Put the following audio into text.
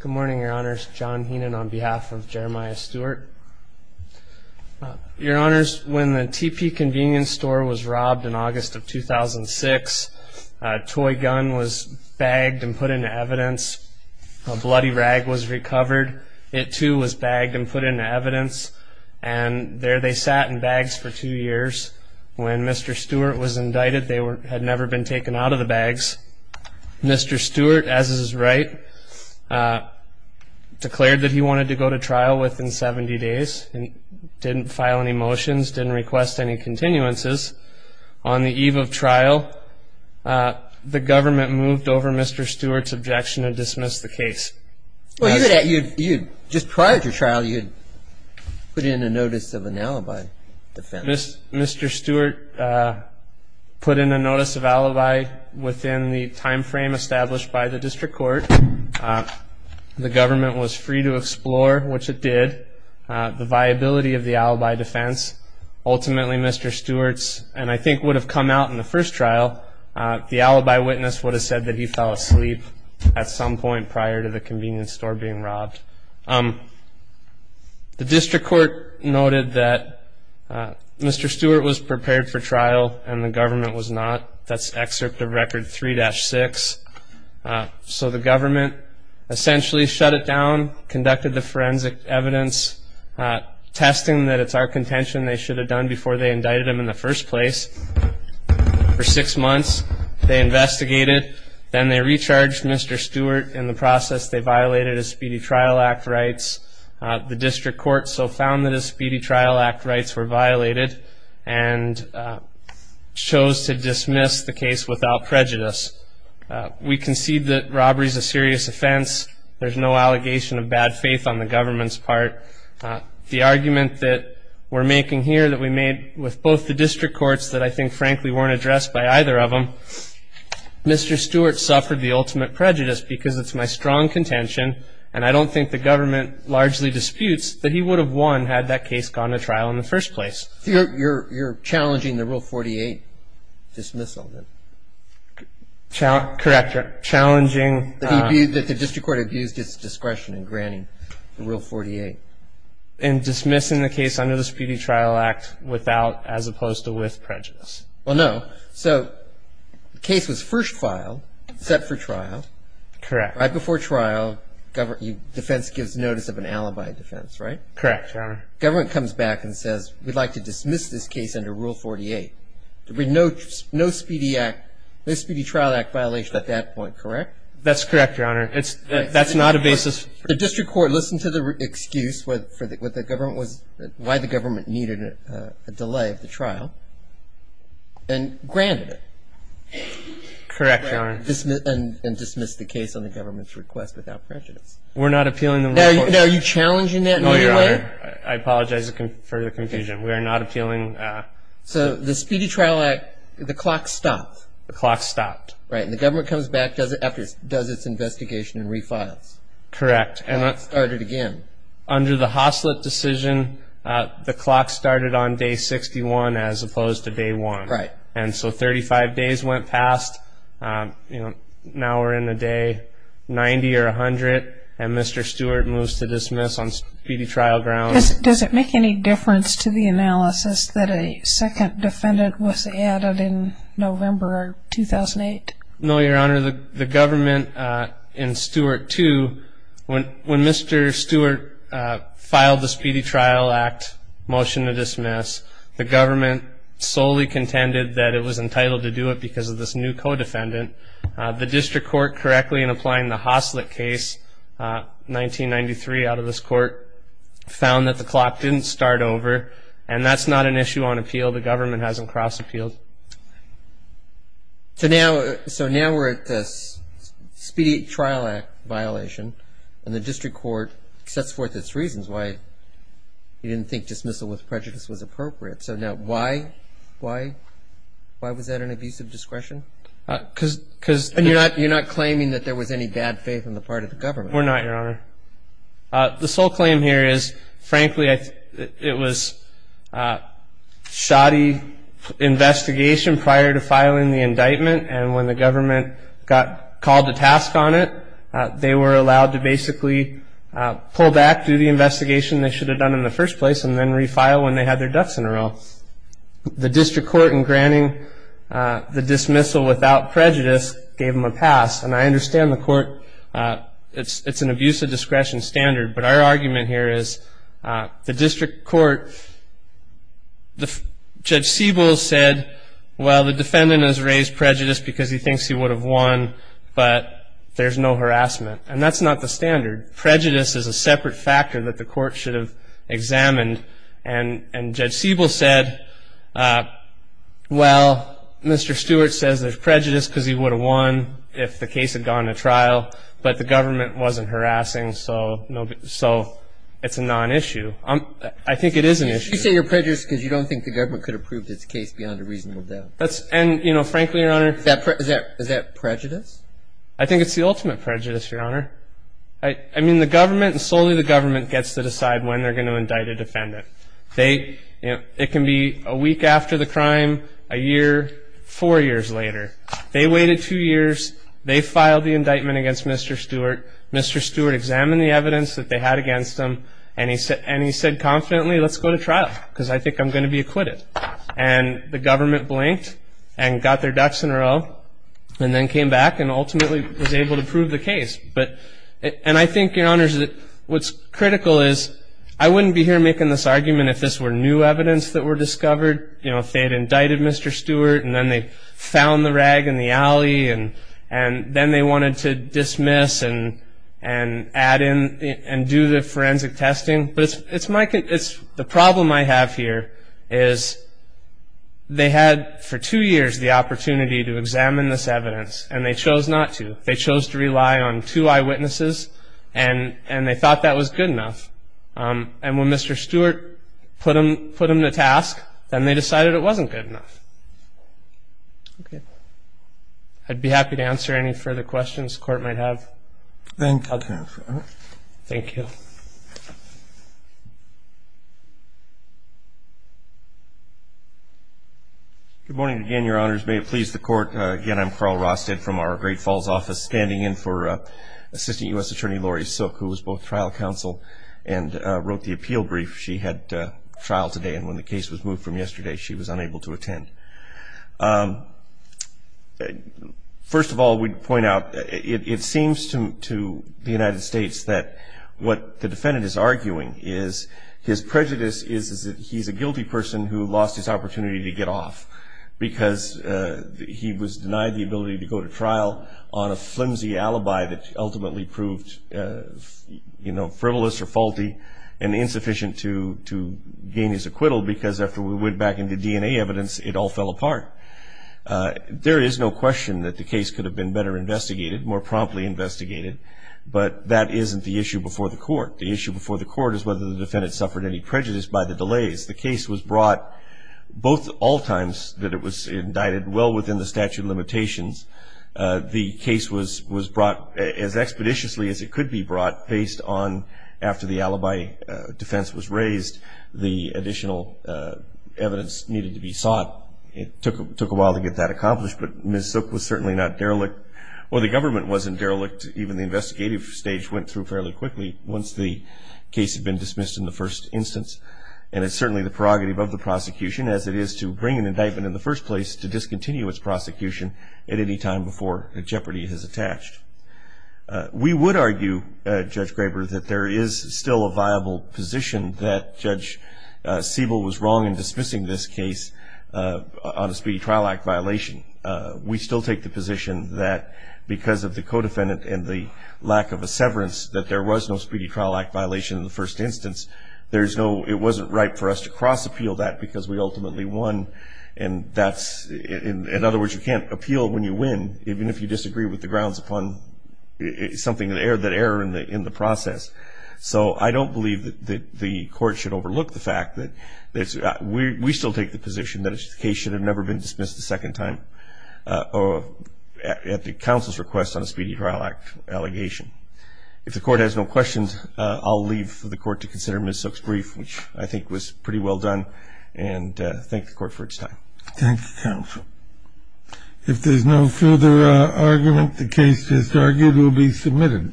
Good morning, your honors. John Heenan on behalf of Jeremiah Stewart. Your honors, when the TP convenience store was robbed in August of 2006, a toy gun was bagged and put into evidence, a bloody rag was recovered, it too was bagged and put into evidence, and there they sat in bags for two years. When Mr. Stewart was indicted they had never been taken out of the bags. Mr. Stewart, as is right, declared that he wanted to go to trial within 70 days and didn't file any motions, didn't request any continuances. On the eve of trial, the government moved over Mr. Stewart's objection and dismissed the case. Well, just prior to trial you'd put in a notice of an alibi defense. Mr. Stewart put in a notice of alibi within the time frame established by the district court. The government was free to explore, which it did, the viability of the alibi defense. Ultimately, Mr. Stewart's, and I think would have come out in the first trial, the alibi witness would have said that he fell asleep at some point prior to the convenience store being robbed. The district court noted that Mr. Stewart was prepared for trial and the government was not. That's excerpt of record 3-6. So the government essentially shut it down, conducted the forensic evidence, testing that it's our contention they should have done before they indicted him in the first place for six months. They investigated, then they recharged Mr. Stewart. In the process they violated his Speedy Trial Act rights. The district court so found that his Speedy Trial Act rights were violated and chose to dismiss the case without prejudice. We concede that robbery is a serious offense. There's no allegation of bad faith on the government's part. The argument that we're making here that we made with both the district courts that I think frankly weren't addressed by either of them, Mr. Stewart suffered the ultimate prejudice because it's my strong contention and I don't think the government largely disputes that he would have won had that case gone to trial in the first place. You're challenging the Rule 48 dismissal then? Correct. Challenging. That the district court abused its discretion in granting the Rule 48. In dismissing the case under the Speedy Trial Act without as opposed to with prejudice. Well no. So the case was first filed, set for trial. Correct. Right before trial, defense gives notice of an alibi defense, right? Correct, Your Honor. Government comes back and says we'd like to dismiss this case under Rule 48. No Speedy Act, no Speedy Trial Act violation at that point, correct? That's correct, Your Honor. That's not a basis. The district court listened to the excuse why the government needed a delay of the trial and granted it. Correct, Your Honor. And dismissed the case on the government's request without prejudice. We're not appealing the Rule 48. Now are you challenging that in any way? No, Your Honor. I apologize for the confusion. We are not appealing. So the Speedy Trial Act, the clock stopped. The clock stopped. Right, and the government comes back, does its investigation and refiles. Correct. And it started again. Under the Hoslett decision, the clock started on Day 61 as opposed to Day 1. Right. And so 35 days went past. Now we're in the day 90 or 100 and Mr. Stewart moves to dismiss on Speedy Trial grounds. Does it make any difference to the analysis that a second defendant was added in When Mr. Stewart filed the Speedy Trial Act motion to dismiss, the government solely contended that it was entitled to do it because of this new co-defendant. The district court correctly in applying the Hoslett case, 1993 out of this court, found that the clock didn't start over. And that's not an issue on appeal. The government hasn't cross-appealed. So now we're at this Speedy Trial Act violation and the district court sets forth its reasons why it didn't think dismissal with prejudice was appropriate. So now why, why, why was that an abusive discretion? Because, because. And you're not, you're not claiming that there was any bad faith on the part of the government. We're not, Your Honor. The sole claim here is, frankly, it was a shoddy investigation prior to filing the indictment. And when the government got called to task on it, they were allowed to basically pull back, do the investigation they should have done in the first place, and then refile when they had their ducks in a row. The district court, in granting the dismissal without prejudice, gave them a pass. And I understand the court, it's, it's an abusive discretion standard. But our argument here is, the district court, the, Judge Siebel said, well, the defendant has raised prejudice because he thinks he would have won, but there's no harassment. And that's not the standard. Prejudice is a separate factor that the court should have examined. And, and Judge Siebel said, well, Mr. Stewart says there's prejudice because he would have won if the case had gone to trial, but the government wasn't harassing, so no, so it's a non-issue. I'm, I think it is an issue. You say you're prejudiced because you don't think the government could have proved its case beyond a reasonable doubt. That's, and, you know, frankly, Your Honor. Is that, is that, is that prejudice? I think it's the ultimate prejudice, Your Honor. I, I mean, the government, and solely the government, gets to decide when they're going to indict a defendant. They, you know, it can be a week after the crime, a year, four years later. They waited two years, they filed the indictment against Mr. Stewart. Mr. Stewart examined the evidence that they had against him, and he said, and he said confidently, let's go to trial, because I think I'm going to be acquitted. And the government blinked, and got their ducks in a row, and then came back, and ultimately was able to prove the case. But, and I think, Your Honors, that what's critical is, I wouldn't be here making this argument if this were new evidence that were discovered. You know, if they had indicted Mr. Stewart, and then they found the rag in the alley, and, and then they wanted to dismiss and, and add in, and do the forensic testing, but it's, it's my, it's, the problem I have here. Is they had, for two years, the opportunity to examine this evidence, and they chose not to. They chose to rely on two eyewitnesses, and, and they thought that was good enough. And when Mr. Stewart put him, put him to task, then they decided it wasn't good enough. Okay, I'd be happy to answer any further questions the court might have. Thank you. I'll turn it over. Thank you. Good morning again, Your Honors. May it please the court. Again, I'm Carl Rosted from our Great Falls office, standing in for Assistant US Attorney Lori Silk, who was both trial counsel and wrote the appeal brief. She had trial today, and when the case was moved from yesterday, she was unable to attend. First of all, we'd point out, it, it seems to, to the United States that what the defendant is arguing is, his prejudice is, is that he's a guilty person who lost his opportunity to get off because he was denied the ability to go to trial on a flimsy alibi that ultimately proved, you know, frivolous or faulty. And insufficient to, to gain his acquittal because after we went back into DNA evidence, it all fell apart. There is no question that the case could have been better investigated, more promptly investigated, but that isn't the issue before the court. The issue before the court is whether the defendant suffered any prejudice by the delays. The case was brought, both all times that it was indicted, well within the statute of limitations. The case was, was brought as expeditiously as it could be brought, based on after the alibi defense was raised, the additional evidence needed to be sought. It took, took a while to get that accomplished, but Ms. Zook was certainly not derelict, or the government wasn't derelict. Even the investigative stage went through fairly quickly, once the case had been dismissed in the first instance. And it's certainly the prerogative of the prosecution, as it is to bring an indictment in the first place, to discontinue its prosecution at any time before a jeopardy is attached. We would argue, Judge Graber, that there is still a viable position that Judge Siebel was wrong in dismissing this case on a speedy trial act violation. We still take the position that because of the co-defendant and the lack of a severance, that there was no speedy trial act violation in the first instance, there's no, it wasn't right for us to cross appeal that because we ultimately won. And that's, in other words, you can't appeal when you win, even if you disagree with the grounds upon something, that error in the process. So I don't believe that the court should overlook the fact that we still take the position that the case should have never been dismissed a second time, at the counsel's request on a speedy trial act allegation. If the court has no questions, I'll leave for the court to consider Ms. Zook's brief, which I think was pretty well done, and thank the court for its time. Thank you, counsel. If there's no further argument, the case is argued will be submitted.